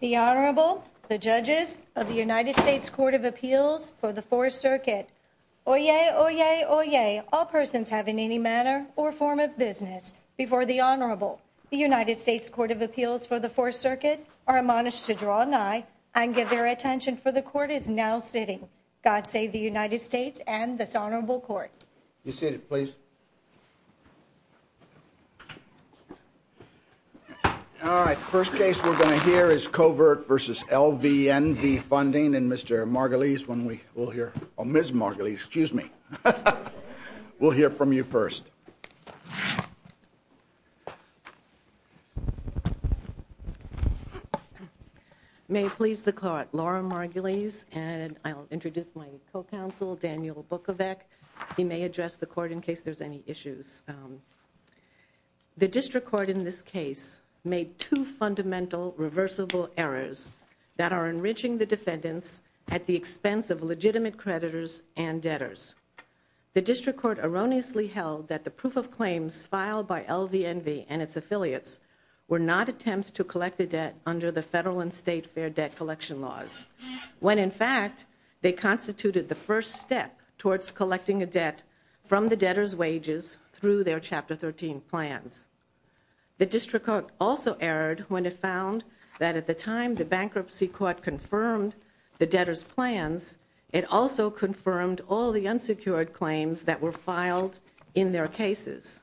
The Honorable, the Judges of the United States Court of Appeals for the Fourth Circuit. Oyez, oyez, oyez, all persons having any manner or form of business before the Honorable. The United States Court of Appeals for the Fourth Circuit are admonished to draw an eye and give their attention for the Court is now sitting. God save the United States and this Honorable Court. You're seated, please. All right, the first case we're going to hear is Covert v. LVNV Funding. And Mr. Margulies, when we will hear, oh, Ms. Margulies, excuse me. We'll hear from you first. May it please the Court, Laura Margulies, and I'll introduce my co-counsel, Daniel Bukovec. He may address the Court in case there's any issues. The District Court in this case made two fundamental reversible errors that are enriching the defendants at the expense of legitimate creditors and debtors. The District Court erroneously held that the proof of claims filed by LVNV and its affiliates were not attempts to collect the debt under the federal and state fair debt collection laws. When, in fact, they constituted the first step towards collecting a debt from the debtors' wages through their Chapter 13 plans. The District Court also erred when it found that at the time the Bankruptcy Court confirmed the debtors' plans, it also confirmed all the unsecured claims that were filed in their cases.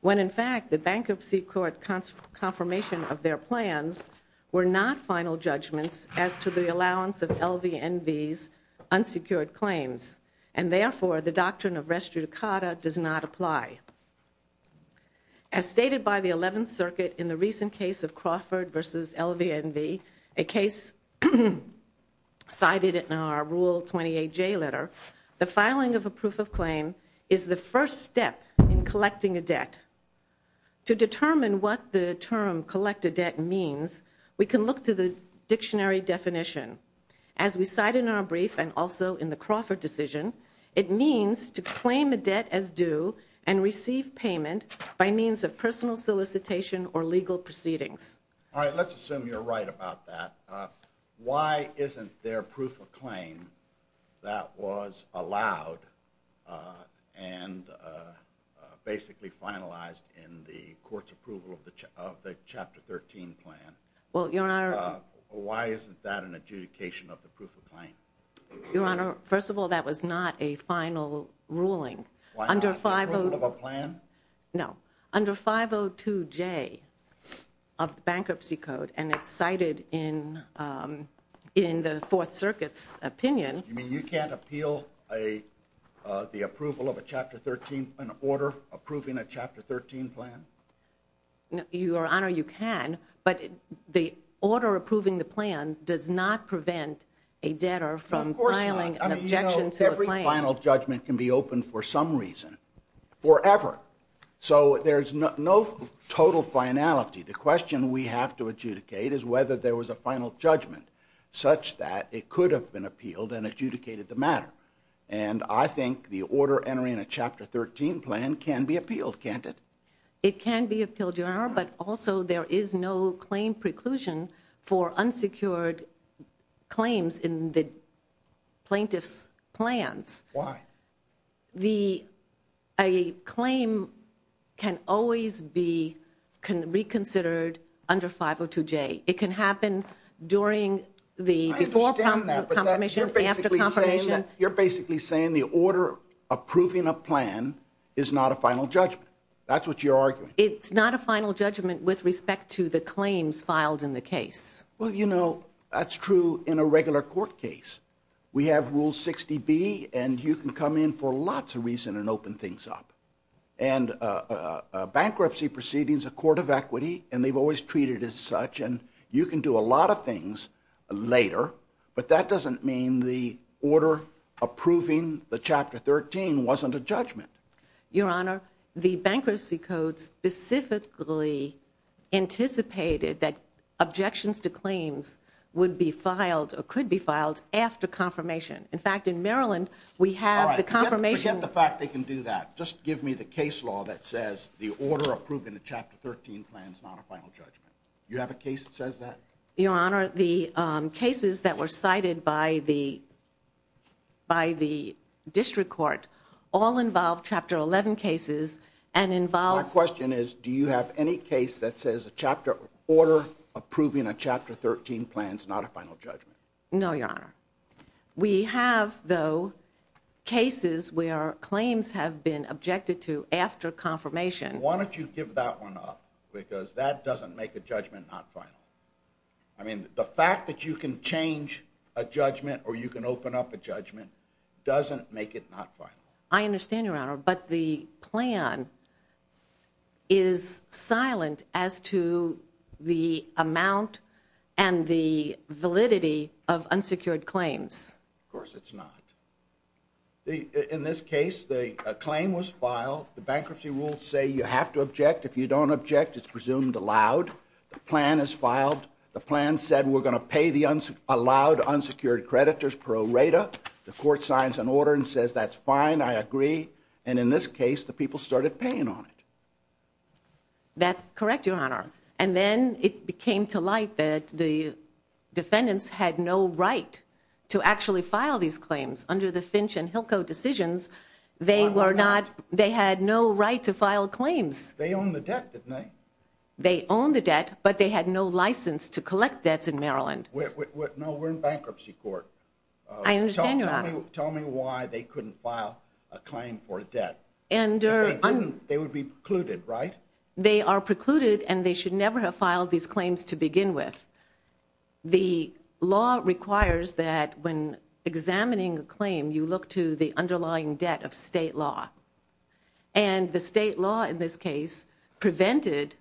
When, in fact, the Bankruptcy Court confirmation of their plans were not final judgments as to the allowance of LVNV's unsecured claims. And, therefore, the doctrine of res judicata does not apply. As stated by the 11th Circuit in the recent case of Crawford v. LVNV, a case cited in our Rule 28J letter, the filing of a proof of claim is the first step in collecting a debt. To determine what the term collect a debt means, we can look to the dictionary definition. As we cite in our brief and also in the Crawford decision, it means to claim a debt as due and receive payment by means of personal solicitation or legal proceedings. All right, let's assume you're right about that. Why isn't there proof of claim that was allowed and basically finalized in the Court's approval of the Chapter 13 plan? Well, Your Honor... Why isn't that an adjudication of the proof of claim? Your Honor, first of all, that was not a final ruling. Why not the approval of a plan? No. Under 502J of the Bankruptcy Code, and it's cited in the Fourth Circuit's opinion... You mean you can't appeal the approval of a Chapter 13, an order approving a Chapter 13 plan? Your Honor, you can, but the order approving the plan does not prevent a debtor from filing an objection to a plan. Every final judgment can be open for some reason, forever. So there's no total finality. The question we have to adjudicate is whether there was a final judgment such that it could have been appealed and adjudicated the matter. And I think the order entering a Chapter 13 plan can be appealed, can't it? It can be appealed, Your Honor, but also there is no claim preclusion for unsecured claims in the plaintiff's plans. Why? The... a claim can always be reconsidered under 502J. It can happen during the... I understand that, but you're basically saying the order approving a plan is not a final judgment. That's what you're arguing. It's not a final judgment with respect to the claims filed in the case. Well, you know, that's true in a regular court case. We have Rule 60B, and you can come in for lots of reasons and open things up. And bankruptcy proceedings, a court of equity, and they've always treated it as such, and you can do a lot of things later, but that doesn't mean the order approving the Chapter 13 wasn't a judgment. Your Honor, the Bankruptcy Code specifically anticipated that objections to claims would be filed or could be filed after confirmation. In fact, in Maryland, we have the confirmation... All right, forget the fact they can do that. Just give me the case law that says the order approving a Chapter 13 plan is not a final judgment. You have a case that says that? Your Honor, the cases that were cited by the district court all involve Chapter 11 cases and involve... My question is, do you have any case that says the order approving a Chapter 13 plan is not a final judgment? No, Your Honor. We have, though, cases where claims have been objected to after confirmation. Why don't you give that one up, because that doesn't make a judgment not final. I mean, the fact that you can change a judgment or you can open up a judgment doesn't make it not final. I understand, Your Honor, but the plan is silent as to the amount and the validity of unsecured claims. Of course it's not. In this case, the claim was filed. The bankruptcy rules say you have to object. If you don't object, it's presumed allowed. The plan is filed. The plan said we're going to pay the allowed unsecured creditors pro rata. The court signs an order and says that's fine, I agree. And in this case, the people started paying on it. That's correct, Your Honor. And then it came to light that the defendants had no right to actually file these claims. Under the Finch and Hilco decisions, they had no right to file claims. They owned the debt, didn't they? They owned the debt, but they had no license to collect debts in Maryland. No, we're in bankruptcy court. I understand, Your Honor. Tell me why they couldn't file a claim for a debt. If they couldn't, they would be precluded, right? They are precluded, and they should never have filed these claims to begin with. The law requires that when examining a claim, you look to the underlying debt of state law. And the state law in this case prevented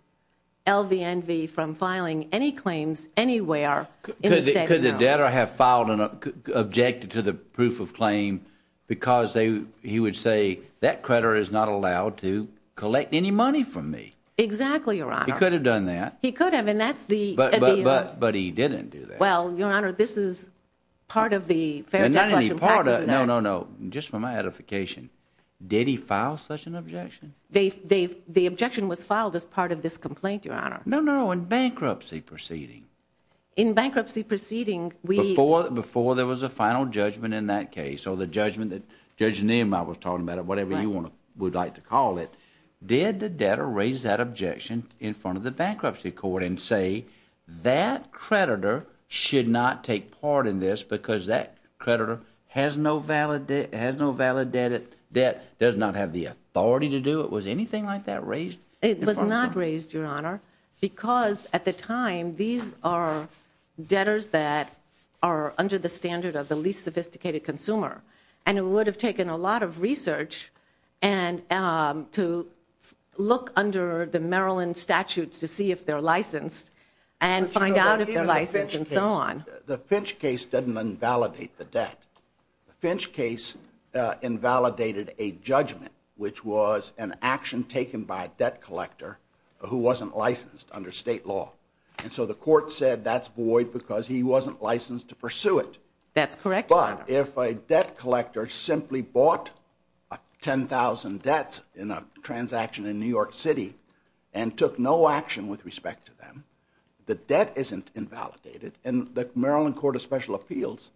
LVNV from filing any claims anywhere in the state of Maryland. Could the debtor have objected to the proof of claim because he would say, that creditor is not allowed to collect any money from me? Exactly, Your Honor. He could have done that. He could have, and that's the... But he didn't do that. Well, Your Honor, this is part of the Fair Debt Collection Practices Act. No, no, no, just for my edification, did he file such an objection? The objection was filed as part of this complaint, Your Honor. No, no, in bankruptcy proceeding. In bankruptcy proceeding, we... Did the debtor raise that objection in front of the bankruptcy court and say, that creditor should not take part in this because that creditor has no valid debt, does not have the authority to do it? Was anything like that raised? It was not raised, Your Honor, because at the time, these are debtors that are under the standard of the least sophisticated consumer. And it would have taken a lot of research to look under the Maryland statutes to see if they're licensed and find out if they're licensed and so on. The Finch case didn't invalidate the debt. The Finch case invalidated a judgment, which was an action taken by a debt collector who wasn't licensed under state law. And so the court said that's void because he wasn't licensed to pursue it. That's correct, Your Honor. If a debt collector simply bought 10,000 debts in a transaction in New York City and took no action with respect to them, the debt isn't invalidated. And the Maryland Court of Special Appeals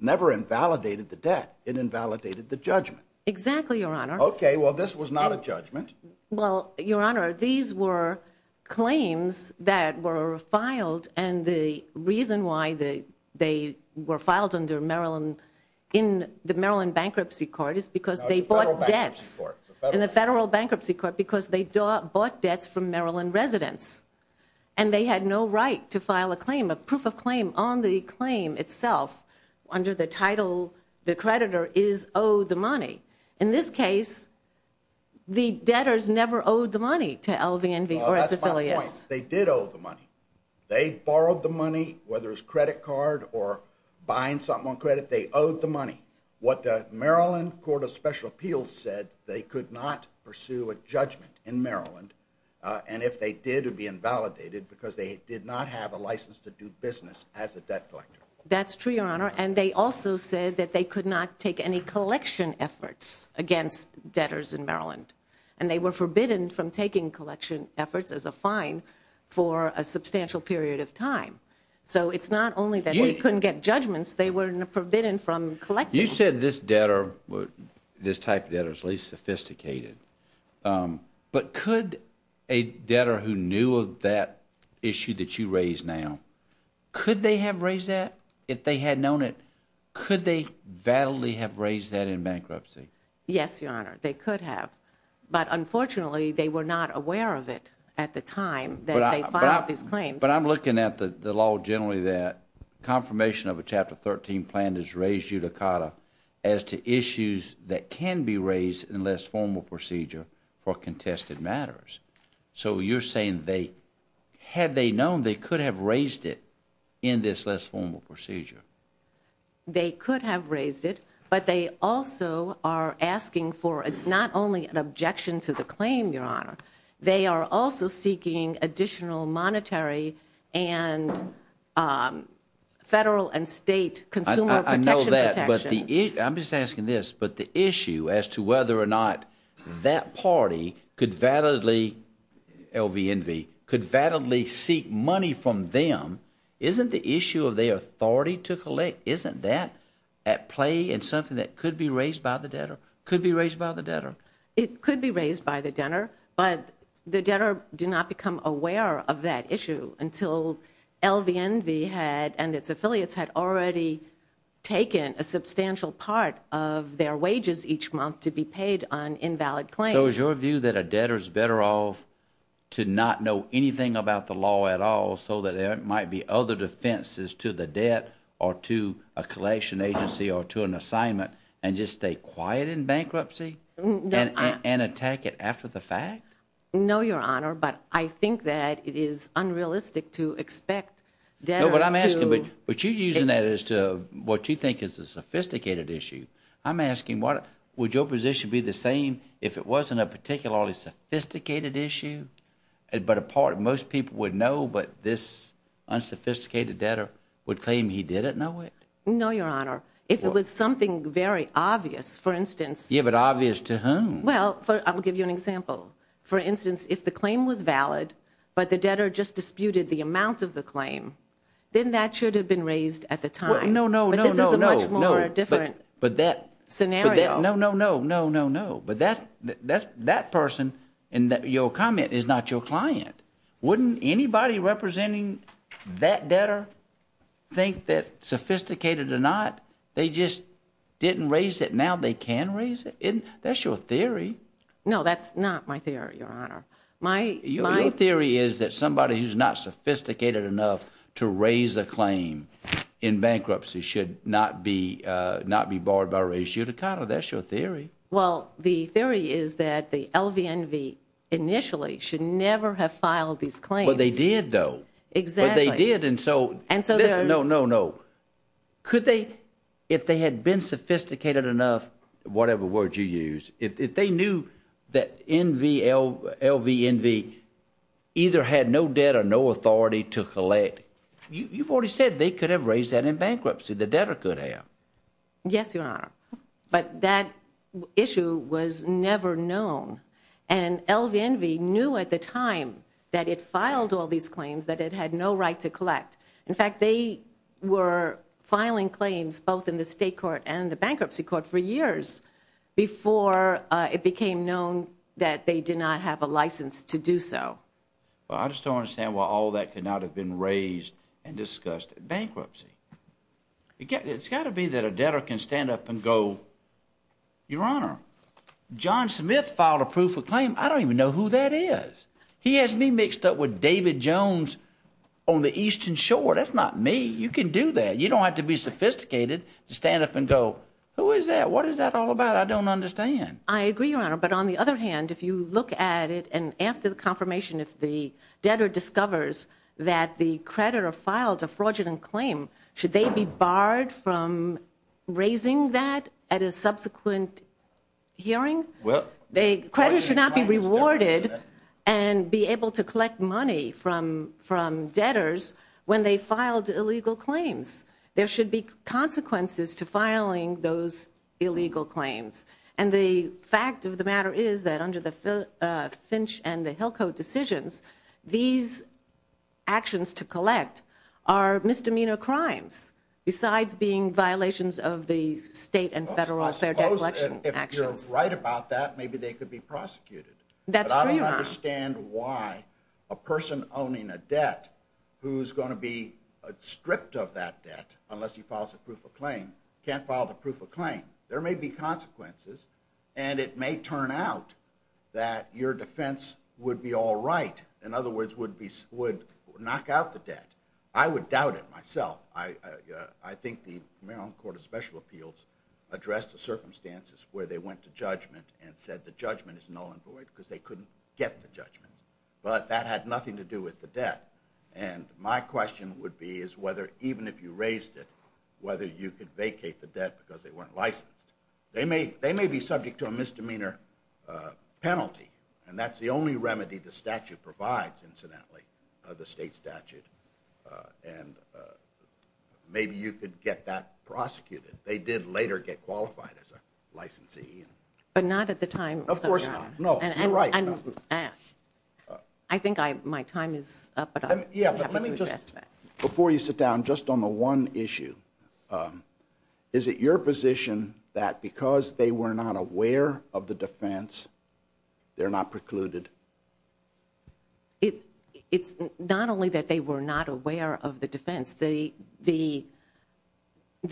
never invalidated the debt. It invalidated the judgment. Exactly, Your Honor. Okay, well, this was not a judgment. Well, Your Honor, these were claims that were filed, and the reason why they were filed in the Maryland bankruptcy court is because they bought debts in the federal bankruptcy court because they bought debts from Maryland residents. And they had no right to file a claim, a proof of claim, on the claim itself under the title the creditor is owed the money. In this case, the debtors never owed the money to LVNV or its affiliates. They did owe the money. They borrowed the money, whether it was credit card or buying something on credit, they owed the money. What the Maryland Court of Special Appeals said, they could not pursue a judgment in Maryland. And if they did, it would be invalidated because they did not have a license to do business as a debt collector. That's true, Your Honor. against debtors in Maryland. And they were forbidden from taking collection efforts as a fine for a substantial period of time. So it's not only that we couldn't get judgments, they were forbidden from collecting them. You said this debtor, this type of debtor, is least sophisticated. But could a debtor who knew of that issue that you raised now, could they have raised that if they had known it? Could they validly have raised that in bankruptcy? Yes, Your Honor, they could have. But unfortunately, they were not aware of it at the time that they filed these claims. But I'm looking at the law generally that confirmation of a Chapter 13 plan is raised judicata as to issues that can be raised in less formal procedure for contested matters. So you're saying they, had they known, they could have raised it in this less formal procedure. They could have raised it, but they also are asking for not only an objection to the claim, Your Honor, they are also seeking additional monetary and federal and state consumer protection protections. I know that, but the issue, I'm just asking this, but the issue as to whether or not that party could validly, LVNV, could validly seek money from them, isn't the issue of their authority to collect, isn't that at play in something that could be raised by the debtor? Could be raised by the debtor. It could be raised by the debtor, but the debtor did not become aware of that issue until LVNV and its affiliates had already taken a substantial part of their wages each month to be paid on invalid claims. So is your view that a debtor is better off to not know anything about the law at all so that there might be other defenses to the debt or to a collection agency or to an assignment and just stay quiet in bankruptcy and attack it after the fact? No, Your Honor, but I think that it is unrealistic to expect debtors to No, but I'm asking, but you're using that as to what you think is a sophisticated issue. I'm asking, would your position be the same if it wasn't a particularly sophisticated issue, but a part of most people would know, but this unsophisticated debtor would claim he didn't know it? No, Your Honor, if it was something very obvious, for instance, Yeah, but obvious to whom? Well, I'll give you an example. For instance, if the claim was valid, but the debtor just disputed the amount of the claim, then that should have been raised at the time. No, no, no, no, no. But this is a much more different scenario. No, no, no, no, no, no. But that person in your comment is not your client. Wouldn't anybody representing that debtor think that sophisticated or not, they just didn't raise it, now they can raise it? That's your theory. No, that's not my theory, Your Honor. Your theory is that somebody who's not sophisticated enough to raise a claim in bankruptcy should not be barred by ratio to condo. That's your theory. Well, the theory is that the LVNV initially should never have filed these claims. Well, they did, though. Exactly. But they did, and so, no, no, no. Could they, if they had been sophisticated enough, whatever word you use, if they knew that LVNV either had no debt or no authority to collect, you've already said they could have raised that in bankruptcy. The debtor could have. Yes, Your Honor. But that issue was never known, and LVNV knew at the time that it filed all these claims that it had no right to collect. In fact, they were filing claims both in the state court and the bankruptcy court for years before it became known that they did not have a license to do so. Well, I just don't understand why all that could not have been raised and discussed in bankruptcy. It's got to be that a debtor can stand up and go, Your Honor, John Smith filed a proof of claim. I don't even know who that is. He has me mixed up with David Jones on the Eastern Shore. That's not me. You can do that. You don't have to be sophisticated to stand up and go, Who is that? What is that all about? I don't understand. I agree, Your Honor. But on the other hand, if you look at it, if the debtor discovers that the creditor filed a fraudulent claim, should they be barred from raising that at a subsequent hearing? Well, Creditors should not be rewarded and be able to collect money from debtors when they filed illegal claims. There should be consequences to filing those illegal claims. And the fact of the matter is that under the Finch and the Hill Code decisions, these actions to collect are misdemeanor crimes, besides being violations of the state and federal fair debt collection actions. If you're right about that, maybe they could be prosecuted. That's for your honor. But I don't understand why a person owning a debt, who's going to be stripped of that debt unless he files a proof of claim, can't file the proof of claim. There may be consequences, and it may turn out that your defense would be all right. In other words, would knock out the debt. I would doubt it myself. I think the Maryland Court of Special Appeals addressed the circumstances where they went to judgment and said the judgment is null and void because they couldn't get the judgment. But that had nothing to do with the debt. And my question would be is whether, even if you raised it, whether you could vacate the debt because they weren't licensed. They may be subject to a misdemeanor penalty, and that's the only remedy the statute provides, incidentally, the state statute. And maybe you could get that prosecuted. They did later get qualified as a licensee. But not at the time. Of course not. No, you're right. I think my time is up. Before you sit down, just on the one issue, is it your position that because they were not aware of the defense, they're not precluded? It's not only that they were not aware of the defense. There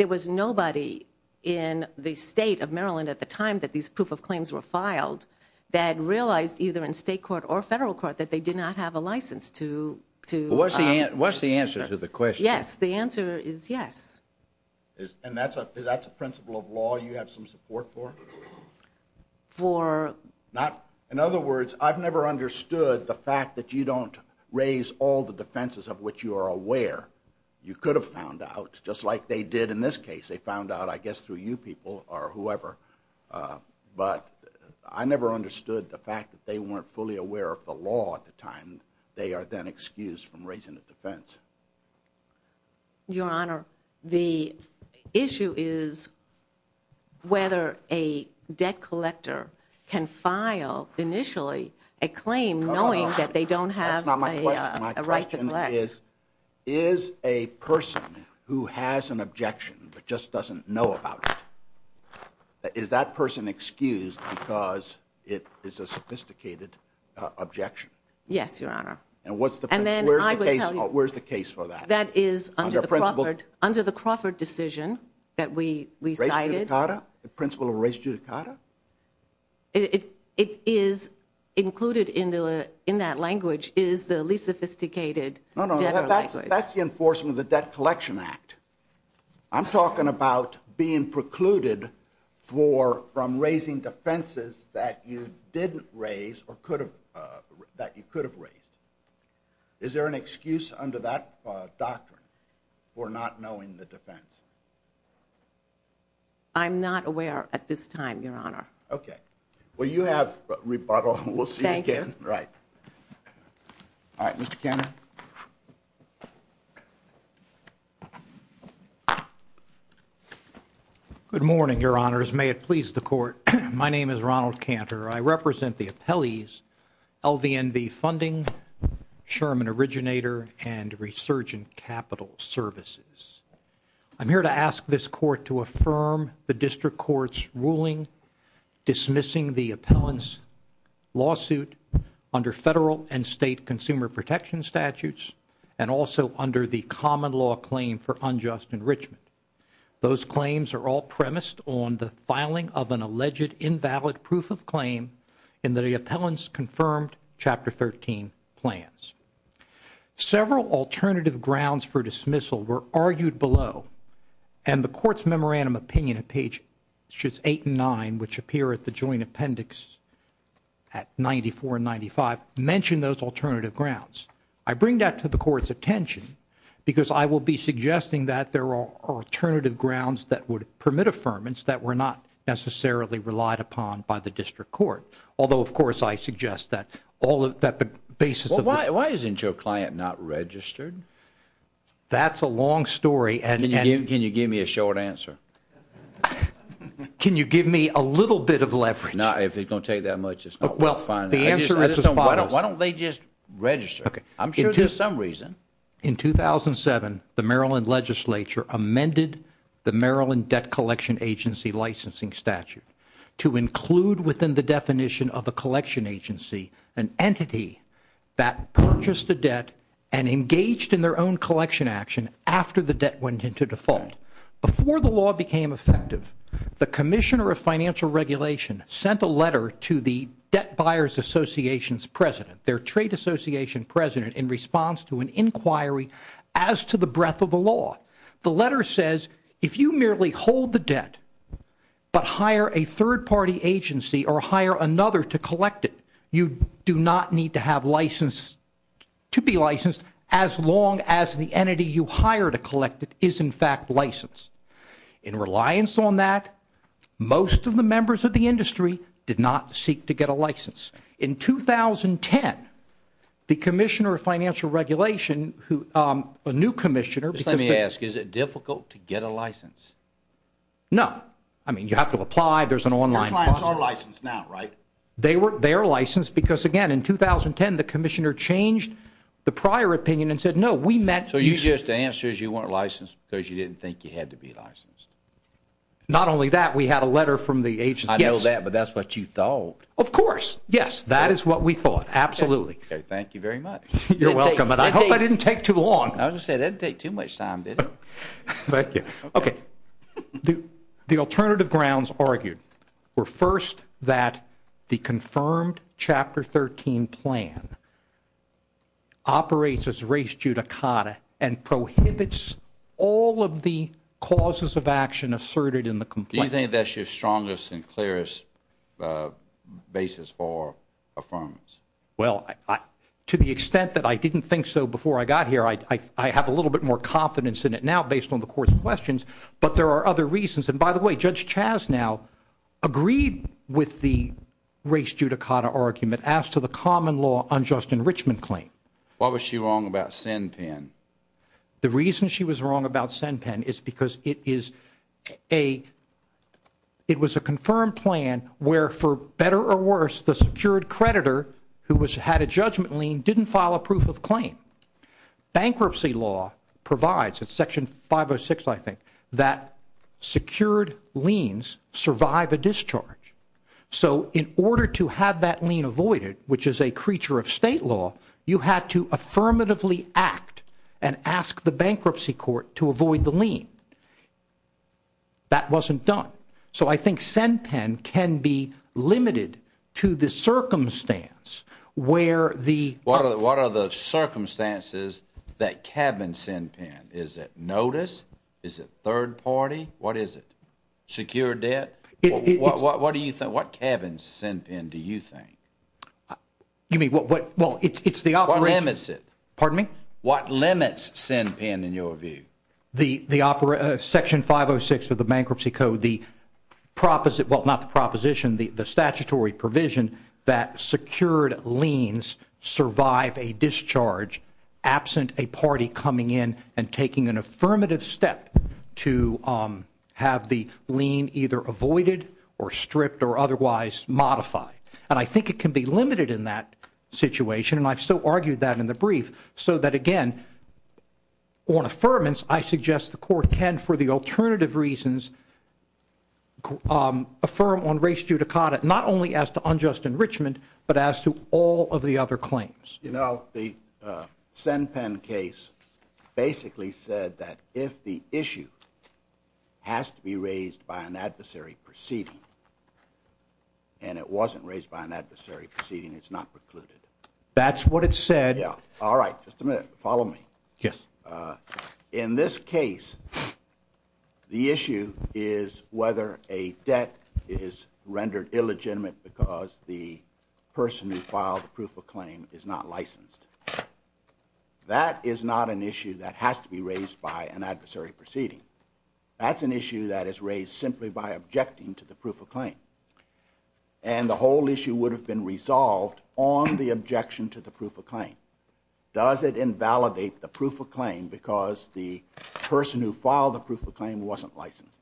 was nobody in the state of Maryland at the time that these proof of claims were filed that realized either in state court or federal court that they did not have a license to. What's the answer to the question? Yes, the answer is yes. And that's a principle of law you have some support for? For. In other words, I've never understood the fact that you don't raise all the defenses of which you are aware. You could have found out just like they did in this case. They found out, I guess, through you people or whoever. But I never understood the fact that they weren't fully aware of the law at the time. They are then excused from raising the defense. Your Honor, the issue is whether a debt collector can file, initially, a claim knowing that they don't have a right to collect. Is a person who has an objection but just doesn't know about it, is that person excused because it is a sophisticated objection? Yes, Your Honor. And where's the case for that? That is under the Crawford decision that we cited. The principle of res judicata? It is included in that language is the least sophisticated debtor language. No, no, that's the enforcement of the Debt Collection Act. I'm talking about being precluded from raising defenses that you didn't raise or that you could have raised. Is there an excuse under that doctrine for not knowing the defense? I'm not aware at this time, Your Honor. Okay. Well, you have rebuttal. We'll see you again. Thank you. Right. All right, Mr. Cantor. Good morning, Your Honors. May it please the Court, my name is Ronald Cantor. I represent the appellees, LVNV Funding, Sherman Originator, and Resurgent Capital Services. I'm here to ask this Court to affirm the District Court's ruling dismissing the appellant's lawsuit under federal and state consumer protection statutes and also under the common law claim for unjust enrichment. Those claims are all premised on the filing of an alleged invalid proof of claim in the appellant's confirmed Chapter 13 plans. Several alternative grounds for dismissal were argued below, and the Court's memorandum opinion at pages 8 and 9, which appear at the joint appendix at 94 and 95, mention those alternative grounds. I bring that to the Court's attention because I will be suggesting that there are alternative grounds that would permit affirmance that were not necessarily relied upon by the District Court, although, of course, I suggest that all of the basis of the Why isn't your client not registered? That's a long story. Can you give me a short answer? Can you give me a little bit of leverage? If it's going to take that much, it's not worth filing. The answer is as follows. Why don't they just register? I'm sure there's some reason. In 2007, the Maryland Legislature amended the Maryland Debt Collection Agency licensing statute to include within the definition of a collection agency an entity that purchased a debt and engaged in their own collection action after the debt went into default. Before the law became effective, the Commissioner of Financial Regulation sent a letter to the Debt Buyers Association's president, their trade association president, in response to an inquiry as to the breadth of the law. The letter says if you merely hold the debt but hire a third-party agency or hire another to collect it, you do not need to be licensed as long as the entity you hire to collect it is, in fact, licensed. In reliance on that, most of the members of the industry did not seek to get a license. In 2010, the Commissioner of Financial Regulation, a new commissioner, Let me ask. Is it difficult to get a license? No. I mean, you have to apply. There's an online process. Your clients are licensed now, right? They are licensed because, again, in 2010, the commissioner changed the prior opinion and said, no, we meant So your answer is you weren't licensed because you didn't think you had to be licensed? Not only that, we had a letter from the agency. I know that, but that's what you thought. Of course. Yes, that is what we thought. Absolutely. Okay. Thank you very much. You're welcome. I hope I didn't take too long. I was going to say, that didn't take too much time, did it? Thank you. Okay. The alternative grounds argued were, first, that the confirmed Chapter 13 plan operates as race judicata and prohibits all of the causes of action asserted in the complaint. Do you think that's your strongest and clearest basis for affirmance? Well, to the extent that I didn't think so before I got here, I have a little bit more confidence in it now, based on the court's questions, but there are other reasons. And, by the way, Judge Chaz now agreed with the race judicata argument as to the common law unjust enrichment claim. Why was she wrong about SenPen? The reason she was wrong about SenPen is because it was a confirmed plan where, for better or worse, the secured creditor who had a judgment lien didn't file a proof of claim. Bankruptcy law provides, it's Section 506, I think, that secured liens survive a discharge. So, in order to have that lien avoided, which is a creature of state law, you had to affirmatively act and ask the bankruptcy court to avoid the lien. That wasn't done. So, I think SenPen can be limited to the circumstance where the- What are the circumstances that cabin SenPen? Is it notice? Is it third party? What is it? Secured debt? What do you think? What cabin SenPen do you think? You mean, well, it's the operation- What limits it? Pardon me? What limits SenPen, in your view? Section 506 of the Bankruptcy Code, the proposition, well, not the proposition, the statutory provision that secured liens survive a discharge absent a party coming in and taking an affirmative step to have the lien either avoided or stripped or otherwise modified. And I think it can be limited in that situation, and I've so argued that in the brief, so that, again, on affirmance, I suggest the court can, for the alternative reasons, affirm on race judicata, not only as to unjust enrichment, but as to all of the other claims. You know, the SenPen case basically said that if the issue has to be raised by an adversary proceeding, and it wasn't raised by an adversary proceeding, it's not precluded. That's what it said. Yeah. All right. Just a minute. Follow me. Yes. In this case, the issue is whether a debt is rendered illegitimate because the person who filed the proof of claim is not licensed. That is not an issue that has to be raised by an adversary proceeding. That's an issue that is raised simply by objecting to the proof of claim, and the whole issue would have been resolved on the objection to the proof of claim. Does it invalidate the proof of claim because the person who filed the proof of claim wasn't licensed?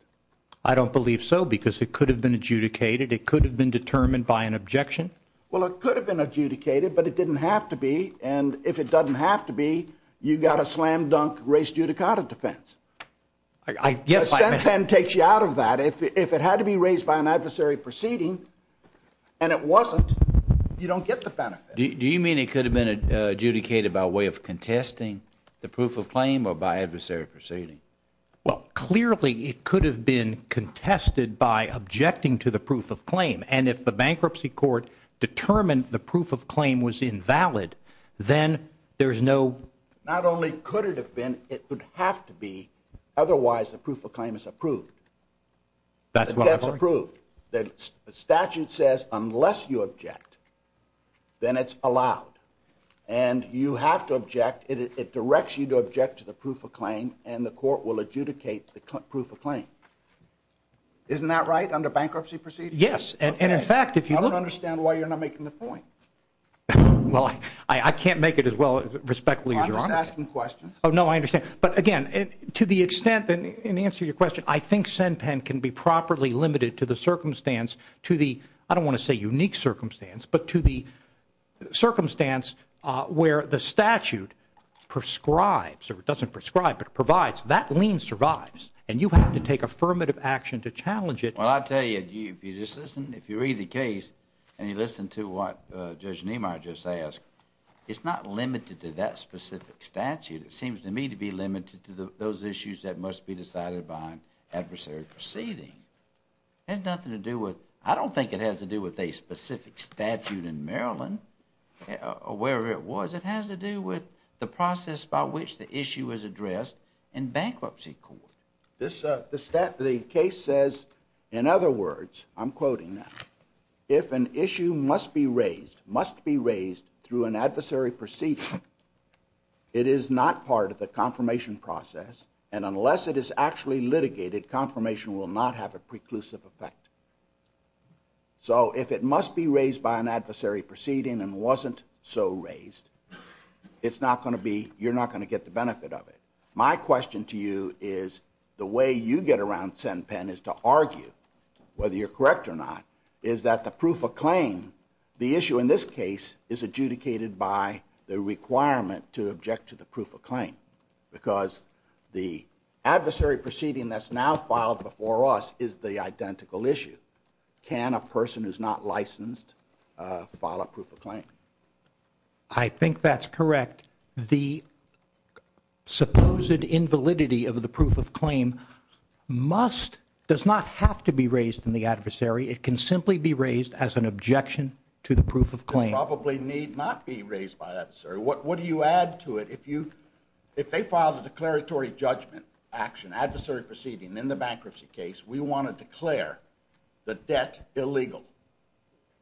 I don't believe so because it could have been adjudicated. It could have been determined by an objection. Well, it could have been adjudicated, but it didn't have to be, and if it doesn't have to be, you've got a slam-dunk race judicata defense. Yes, I mean ---- The SenPen takes you out of that. If it had to be raised by an adversary proceeding, and it wasn't, you don't get the benefit. Do you mean it could have been adjudicated by way of contesting the proof of claim or by adversary proceeding? Well, clearly it could have been contested by objecting to the proof of claim, and if the bankruptcy court determined the proof of claim was invalid, then there's no ---- Not only could it have been, it would have to be, otherwise the proof of claim is approved. That's what I'm saying. The statute says unless you object, then it's allowed, and you have to object. It directs you to object to the proof of claim, and the court will adjudicate the proof of claim. Isn't that right, under bankruptcy proceedings? Yes, and in fact, if you look ---- I don't understand why you're not making the point. Well, I can't make it as well respectfully as your Honor. I'm just asking questions. Oh, no, I understand. But, again, to the extent, in answer to your question, I think SENPEN can be properly limited to the circumstance, to the, I don't want to say unique circumstance, but to the circumstance where the statute prescribes, or it doesn't prescribe, but it provides, that lien survives, and you have to take affirmative action to challenge it. Well, I'll tell you, if you just listen, if you read the case and you listen to what Judge Niemeyer just asked, it's not limited to that specific statute. It seems to me to be limited to those issues that must be decided behind adversary proceeding. It has nothing to do with, I don't think it has to do with a specific statute in Maryland, or wherever it was. It has to do with the process by which the issue is addressed in bankruptcy court. The case says, in other words, I'm quoting now, if an issue must be raised, must be raised through an adversary proceeding, it is not part of the confirmation process, and unless it is actually litigated, confirmation will not have a preclusive effect. So, if it must be raised by an adversary proceeding and wasn't so raised, it's not going to be, you're not going to get the benefit of it. My question to you is, the way you get around Sen Penn is to argue, whether you're correct or not, is that the proof of claim, the issue in this case, is adjudicated by the requirement to object to the proof of claim. Because the adversary proceeding that's now filed before us is the identical issue. Can a person who's not licensed file a proof of claim? I think that's correct. The supposed invalidity of the proof of claim must, does not have to be raised in the adversary. It can simply be raised as an objection to the proof of claim. It probably need not be raised by an adversary. What do you add to it? If they filed a declaratory judgment action, adversary proceeding, in the bankruptcy case, we want to declare the debt illegal.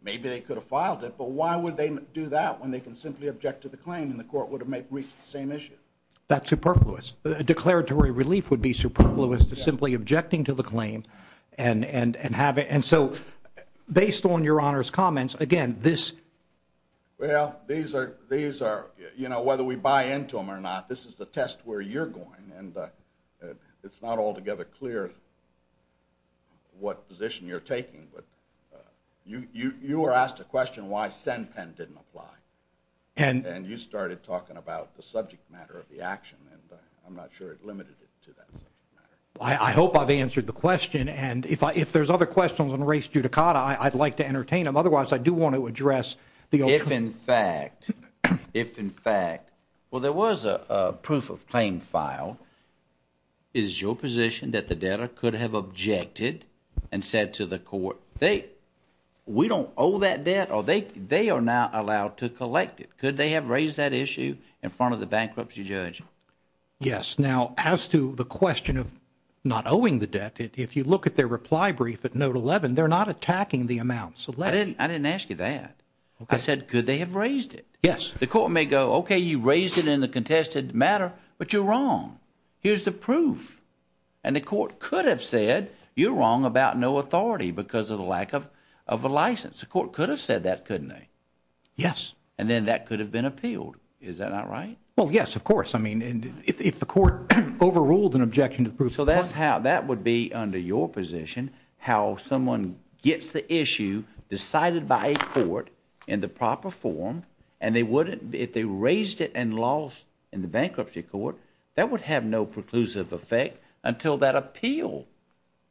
Maybe they could have filed it, but why would they do that when they can simply object to the claim and the court would have reached the same issue? That's superfluous. A declaratory relief would be superfluous to simply objecting to the claim and have it. And so, based on your Honor's comments, again, this. Well, these are, you know, whether we buy into them or not, this is the test where you're going. And it's not altogether clear what position you're taking. You were asked a question why SENPEN didn't apply. And you started talking about the subject matter of the action, and I'm not sure it limited it to that subject matter. I hope I've answered the question. And if there's other questions on race judicata, I'd like to entertain them. Otherwise, I do want to address the other. If in fact, if in fact, well, there was a proof of claim filed. Is your position that the debtor could have objected and said to the court, we don't owe that debt or they are not allowed to collect it. Could they have raised that issue in front of the bankruptcy judge? Yes. Now, as to the question of not owing the debt, if you look at their reply brief at note 11, they're not attacking the amount. I didn't ask you that. I said, could they have raised it? Yes. The court may go, okay, you raised it in the contested matter, but you're wrong. Here's the proof. And the court could have said, you're wrong about no authority because of the lack of a license. The court could have said that, couldn't they? Yes. And then that could have been appealed. Is that not right? Well, yes, of course. I mean, if the court overruled an objection to the proof of claim. So that's how, that would be under your position, how someone gets the issue decided by a court in the proper form and they wouldn't, if they raised it and lost in the bankruptcy court, that would have no preclusive effect until that appeal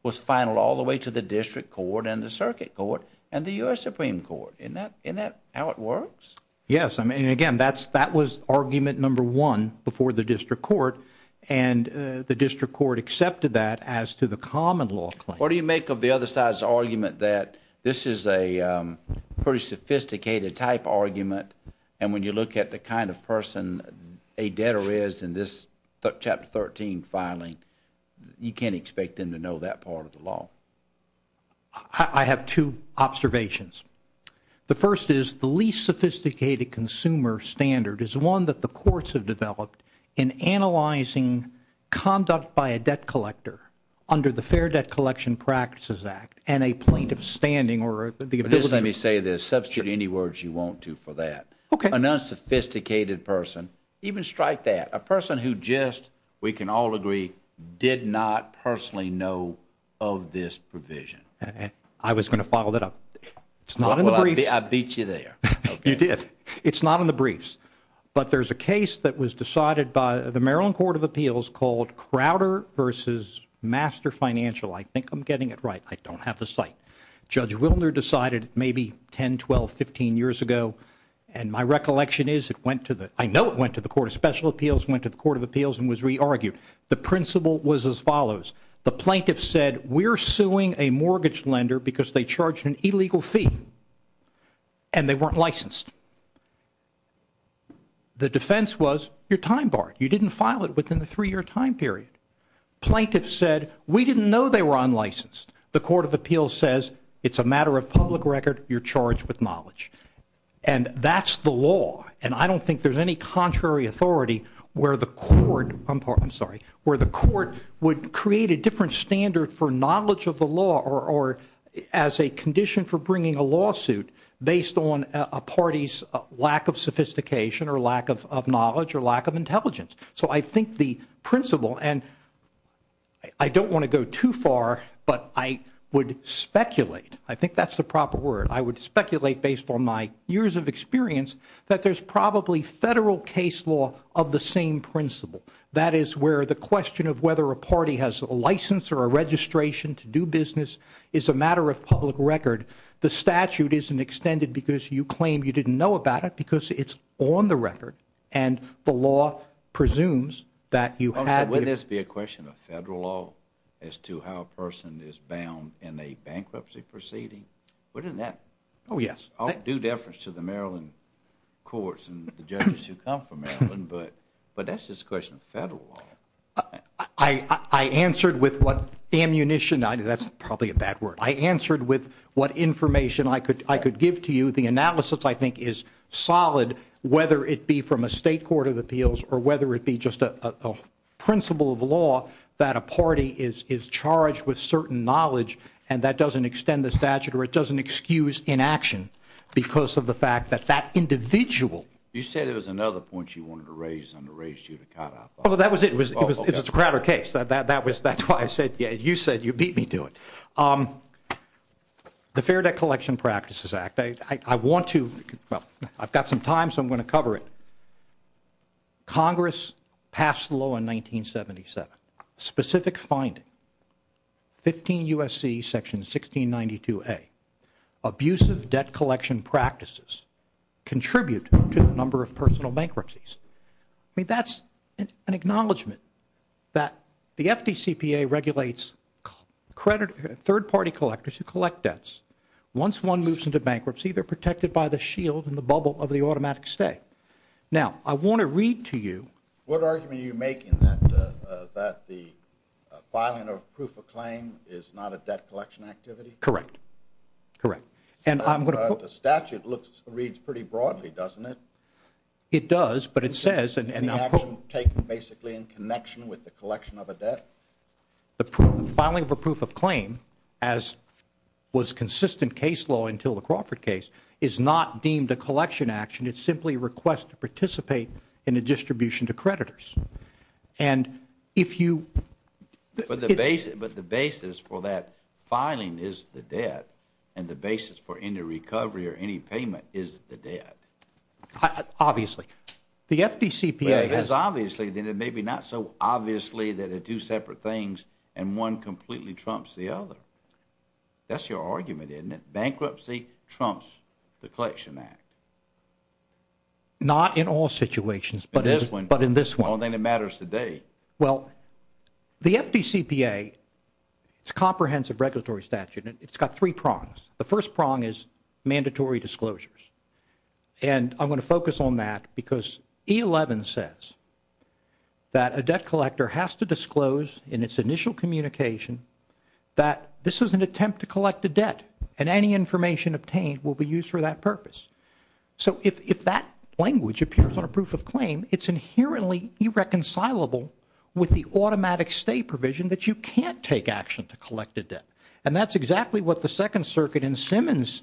was finaled all the way to the district court and the circuit court and the U.S. Supreme Court. Isn't that how it works? Yes. I mean, again, that was argument number one before the district court, and the district court accepted that as to the common law claim. What do you make of the other side's argument that this is a pretty sophisticated type argument and when you look at the kind of person a debtor is in this Chapter 13 filing, you can't expect them to know that part of the law. I have two observations. The first is the least sophisticated consumer standard is one that the courts have developed in analyzing conduct by a debt collector under the Fair Debt Collection Practices Act and a plaintiff's standing or the ability to substitute any words you want to for that. Okay. An unsophisticated person, even strike that, a person who just, we can all agree, did not personally know of this provision. I was going to follow that up. It's not in the briefs. Well, I beat you there. You did. It's not in the briefs, but there's a case that was decided by the Maryland Court of Appeals called Crowder v. Master Financial. I think I'm getting it right. I don't have the site. Judge Wilner decided maybe 10, 12, 15 years ago, and my recollection is it went to the, I know it went to the Court of Special Appeals, went to the Court of Appeals and was re-argued. The principle was as follows. The plaintiff said we're suing a mortgage lender because they charged an illegal fee and they weren't licensed. The defense was you're time barred. You didn't file it within the three-year time period. Plaintiff said we didn't know they were unlicensed. The Court of Appeals says it's a matter of public record. You're charged with knowledge. And that's the law. And I don't think there's any contrary authority where the court would create a different standard for knowledge of the law or as a condition for bringing a lawsuit based on a party's lack of sophistication or lack of knowledge or lack of intelligence. So I think the principle, and I don't want to go too far, but I would speculate, I think that's the proper word, I would speculate based on my years of experience that there's probably federal case law of the same principle. That is where the question of whether a party has a license or a registration to do business is a matter of public record. The statute isn't extended because you claim you didn't know about it because it's on the record and the law presumes that you had. Wouldn't this be a question of federal law as to how a person is bound in a bankruptcy proceeding? Wouldn't that do difference to the Maryland courts and the judges who come from Maryland? But that's just a question of federal law. I answered with what ammunition. That's probably a bad word. I answered with what information I could give to you. The analysis, I think, is solid whether it be from a state court of appeals or whether it be just a principle of law that a party is charged with certain knowledge and that doesn't extend the statute or it doesn't excuse inaction because of the fact that that individual. You said there was another point you wanted to raise and I raised you to cut off. Well, that was it. It was a Crowder case. That's why I said you beat me to it. The Fair Debt Collection Practices Act. I want to, well, I've got some time so I'm going to cover it. Congress passed the law in 1977. Specific finding, 15 U.S.C. section 1692A, abusive debt collection practices contribute to the number of personal bankruptcies. That's an acknowledgment that the FDCPA regulates third party collectors who collect debts. Once one moves into bankruptcy, they're protected by the shield and the bubble of the automatic stay. Now, I want to read to you. What argument are you making that the filing of proof of claim is not a debt collection activity? Correct. Correct. The statute reads pretty broadly, doesn't it? It does, but it says. The action taken basically in connection with the collection of a debt? The filing of a proof of claim, as was consistent case law until the Crawford case, is not deemed a collection action. It's simply a request to participate in a distribution to creditors. And if you. But the basis for that filing is the debt and the basis for any recovery or any payment is the debt. Obviously. The FDCPA. Well, if it's obviously, then it may be not so obviously that it's two separate things and one completely trumps the other. That's your argument, isn't it? Bankruptcy trumps the collection act. Not in all situations, but in this one. All that matters today. Well, the FDCPA, it's a comprehensive regulatory statute. It's got three prongs. The first prong is mandatory disclosures. And I'm going to focus on that because E11 says that a debt collector has to disclose in its initial communication that this is an attempt to collect a debt and any information obtained will be used for that purpose. So if that language appears on a proof of claim, it's inherently irreconcilable with the automatic stay provision that you can't take action to collect a debt. And that's exactly what the Second Circuit in Simmons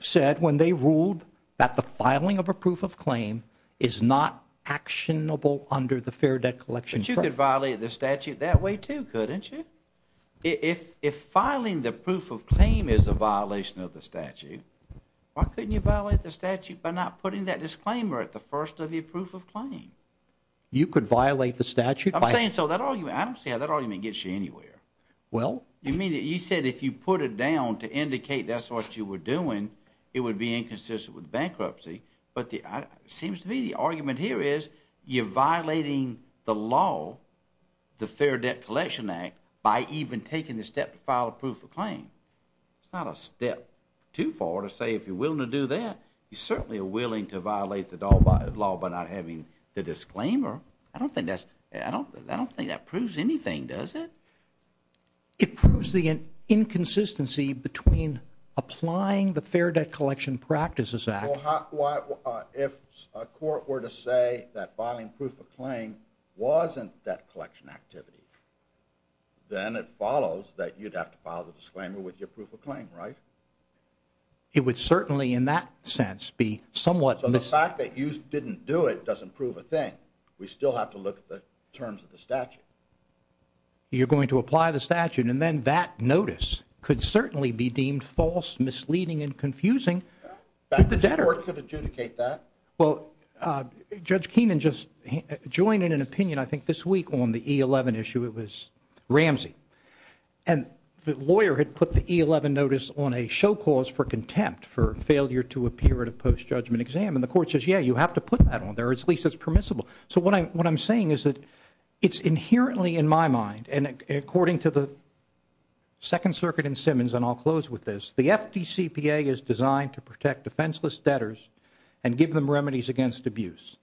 said when they ruled that the filing of a proof of claim is not actionable under the fair debt collection. But you could violate the statute that way, too, couldn't you? If filing the proof of claim is a violation of the statute, why couldn't you violate the statute by not putting that disclaimer at the first of your proof of claim? You could violate the statute. I'm saying so. I don't see how that argument gets you anywhere. Well? You said if you put it down to indicate that's what you were doing, it would be inconsistent with bankruptcy. But it seems to me the argument here is you're violating the law, the Fair Debt Collection Act, by even taking the step to file a proof of claim. It's not a step too far to say if you're willing to do that, you certainly are willing to violate the law by not having the disclaimer. I don't think that proves anything, does it? It proves the inconsistency between applying the Fair Debt Collection Practices Act. Well, if a court were to say that filing proof of claim wasn't debt collection activity, then it follows that you'd have to file the disclaimer with your proof of claim, right? It would certainly, in that sense, be somewhat misleading. The fact that you didn't do it doesn't prove a thing. We still have to look at the terms of the statute. You're going to apply the statute, and then that notice could certainly be deemed false, misleading, and confusing to the debtor. The court could adjudicate that. Well, Judge Keenan just joined in an opinion, I think, this week on the E11 issue. It was Ramsey. And the lawyer had put the E11 notice on a show cause for contempt, for failure to appear at a post-judgment exam. And the court says, yeah, you have to put that on there, or at least it's permissible. So what I'm saying is that it's inherently, in my mind, and according to the Second Circuit in Simmons, and I'll close with this, the FDCPA is designed to protect defenseless debtors and give them remedies against abuse.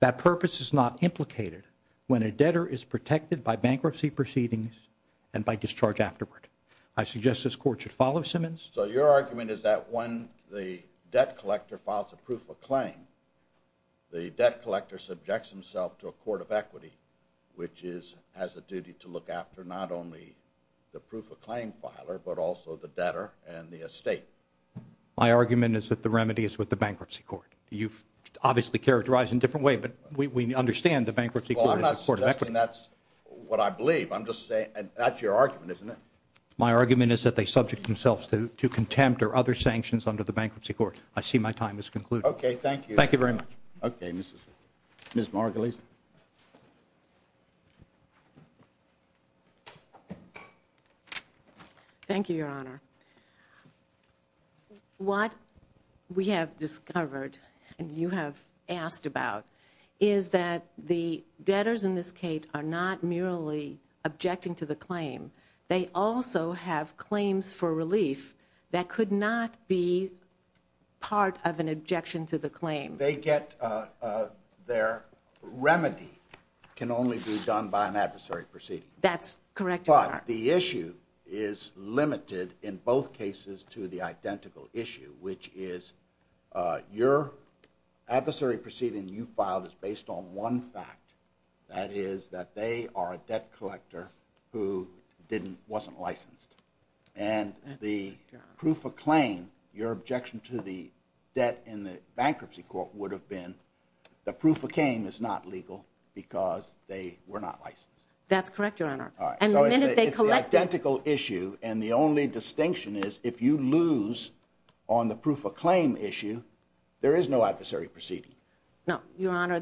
That purpose is not implicated when a debtor is protected by bankruptcy proceedings and by discharge afterward. I suggest this court should follow Simmons. So your argument is that when the debt collector files a proof of claim, the debt collector subjects himself to a court of equity, which has a duty to look after not only the proof of claim filer, but also the debtor and the estate. My argument is that the remedy is with the bankruptcy court. You've obviously characterized it in a different way, but we understand the bankruptcy court is a court of equity. Well, I'm not suggesting that's what I believe. I'm just saying that's your argument, isn't it? My argument is that they subject themselves to contempt or other sanctions under the bankruptcy court. I see my time has concluded. Okay, thank you. Thank you very much. Okay, Ms. Margulies. Thank you, Your Honor. What we have discovered, and you have asked about, is that the debtors in this case are not merely objecting to the claim. They also have claims for relief that could not be part of an objection to the claim. Their remedy can only be done by an adversary proceeding. That's correct, Your Honor. But the issue is limited in both cases to the identical issue, which is your adversary proceeding you filed is based on one fact, that is that they are a debt collector who wasn't licensed. And the proof of claim, your objection to the debt in the bankruptcy court would have been the proof of claim is not legal because they were not licensed. That's correct, Your Honor. All right. So it's the identical issue, and the only distinction is if you lose on the proof of claim issue, there is no adversary proceeding. No, Your Honor.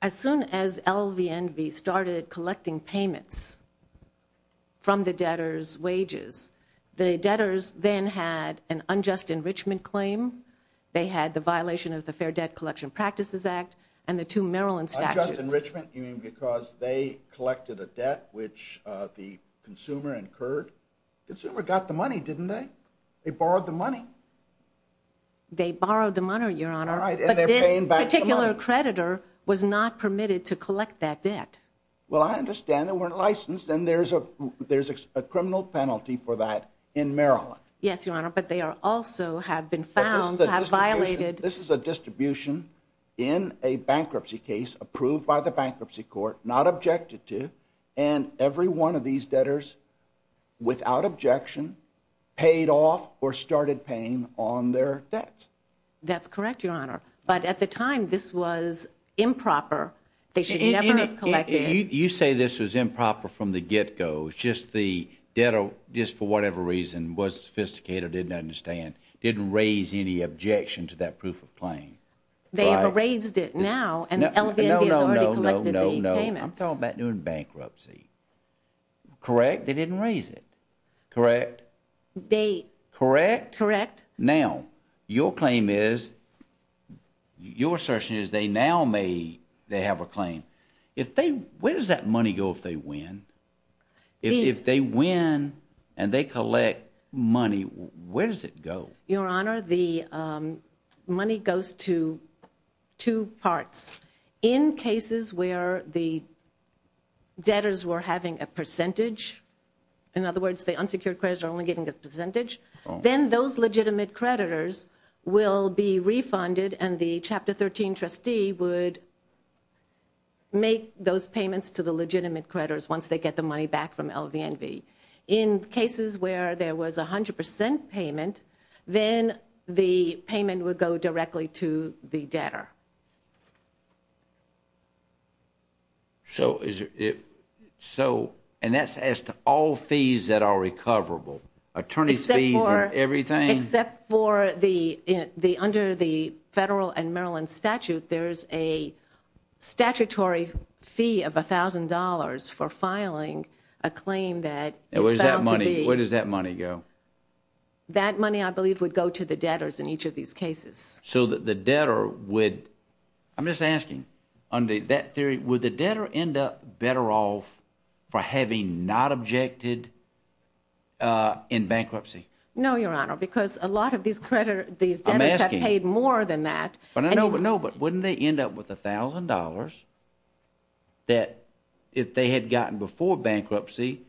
As soon as LVNV started collecting payments from the debtors' wages, the debtors then had an unjust enrichment claim. They had the violation of the Fair Debt Collection Practices Act and the two Maryland statutes. Unjust enrichment, you mean because they collected a debt which the consumer incurred? The consumer got the money, didn't they? They borrowed the money. They borrowed the money, Your Honor. All right, and they're paying back the money. But this particular creditor was not permitted to collect that debt. Well, I understand they weren't licensed, and there's a criminal penalty for that in Maryland. Yes, Your Honor, but they also have been found to have violated. This is a distribution in a bankruptcy case approved by the bankruptcy court, not objected to, and every one of these debtors, without objection, paid off or started paying on their debts. That's correct, Your Honor. But at the time, this was improper. They should never have collected it. You say this was improper from the get-go. It's just the debtor, just for whatever reason, was sophisticated or didn't understand, didn't raise any objection to that proof of claim. They have raised it now, and LVNV has already collected the payments. I'm talking about doing bankruptcy. Correct? They didn't raise it. Correct? Correct? Correct. Now, your claim is, your assertion is they now may have a claim. Where does that money go if they win? If they win and they collect money, where does it go? Your Honor, the money goes to two parts. In cases where the debtors were having a percentage, in other words, the unsecured creditors are only getting a percentage, then those legitimate creditors will be refunded, and the Chapter 13 trustee would make those payments to the legitimate creditors once they get the money back from LVNV. In cases where there was a 100 percent payment, then the payment would go directly to the debtor. So, and that's as to all fees that are recoverable? Attorney's fees and everything? Except for under the federal and Maryland statute, there's a statutory fee of $1,000 for filing a claim that is found to be. Where does that money go? That money, I believe, would go to the debtors in each of these cases. So the debtor would, I'm just asking, under that theory would the debtor end up better off for having not objected in bankruptcy? No, Your Honor, because a lot of these debtors have paid more than that. No, but wouldn't they end up with $1,000 that, if they had gotten before bankruptcy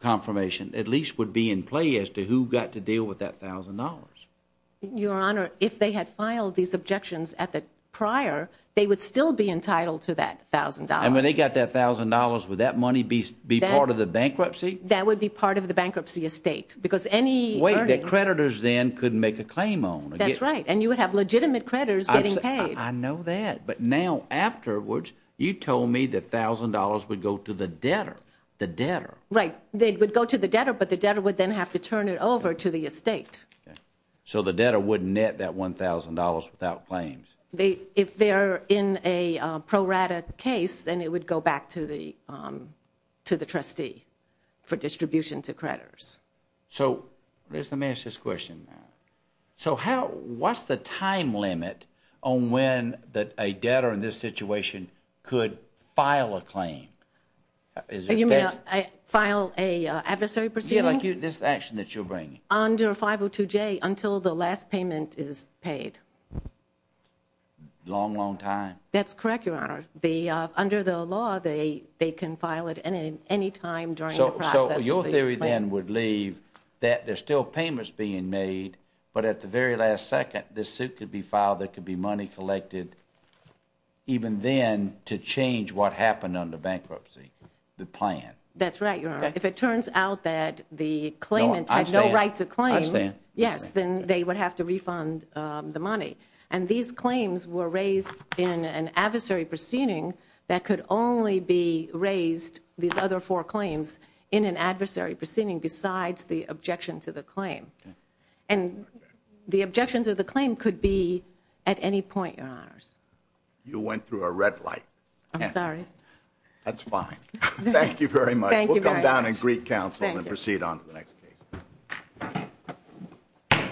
confirmation, at least would be in play as to who got to deal with that $1,000? Your Honor, if they had filed these objections at the prior, they would still be entitled to that $1,000. And when they got that $1,000, would that money be part of the bankruptcy? That would be part of the bankruptcy estate, because any earnings. Wait, the creditors then could make a claim on it. That's right, and you would have legitimate creditors getting paid. I know that. But now afterwards, you told me the $1,000 would go to the debtor. The debtor. Right. It would go to the debtor, but the debtor would then have to turn it over to the estate. So the debtor wouldn't net that $1,000 without claims. If they're in a pro rata case, then it would go back to the trustee for distribution to creditors. So let me ask this question. So what's the time limit on when a debtor in this situation could file a claim? You mean file an adversary proceeding? Yeah, like this action that you're bringing. Under 502J, until the last payment is paid. Long, long time. That's correct, Your Honor. Under the law, they can file it any time during the process of the claims. The theory then would leave that there's still payments being made, but at the very last second, this suit could be filed, there could be money collected, even then to change what happened under bankruptcy. The plan. That's right, Your Honor. If it turns out that the claimant had no right to claim, yes, then they would have to refund the money. And these claims were raised in an adversary proceeding that could only be raised, these other four claims, in an adversary proceeding besides the objection to the claim. And the objection to the claim could be at any point, Your Honors. You went through a red light. I'm sorry. That's fine. Thank you very much. Thank you very much. We'll come down and greet counsel and proceed on to the next case. Thank you.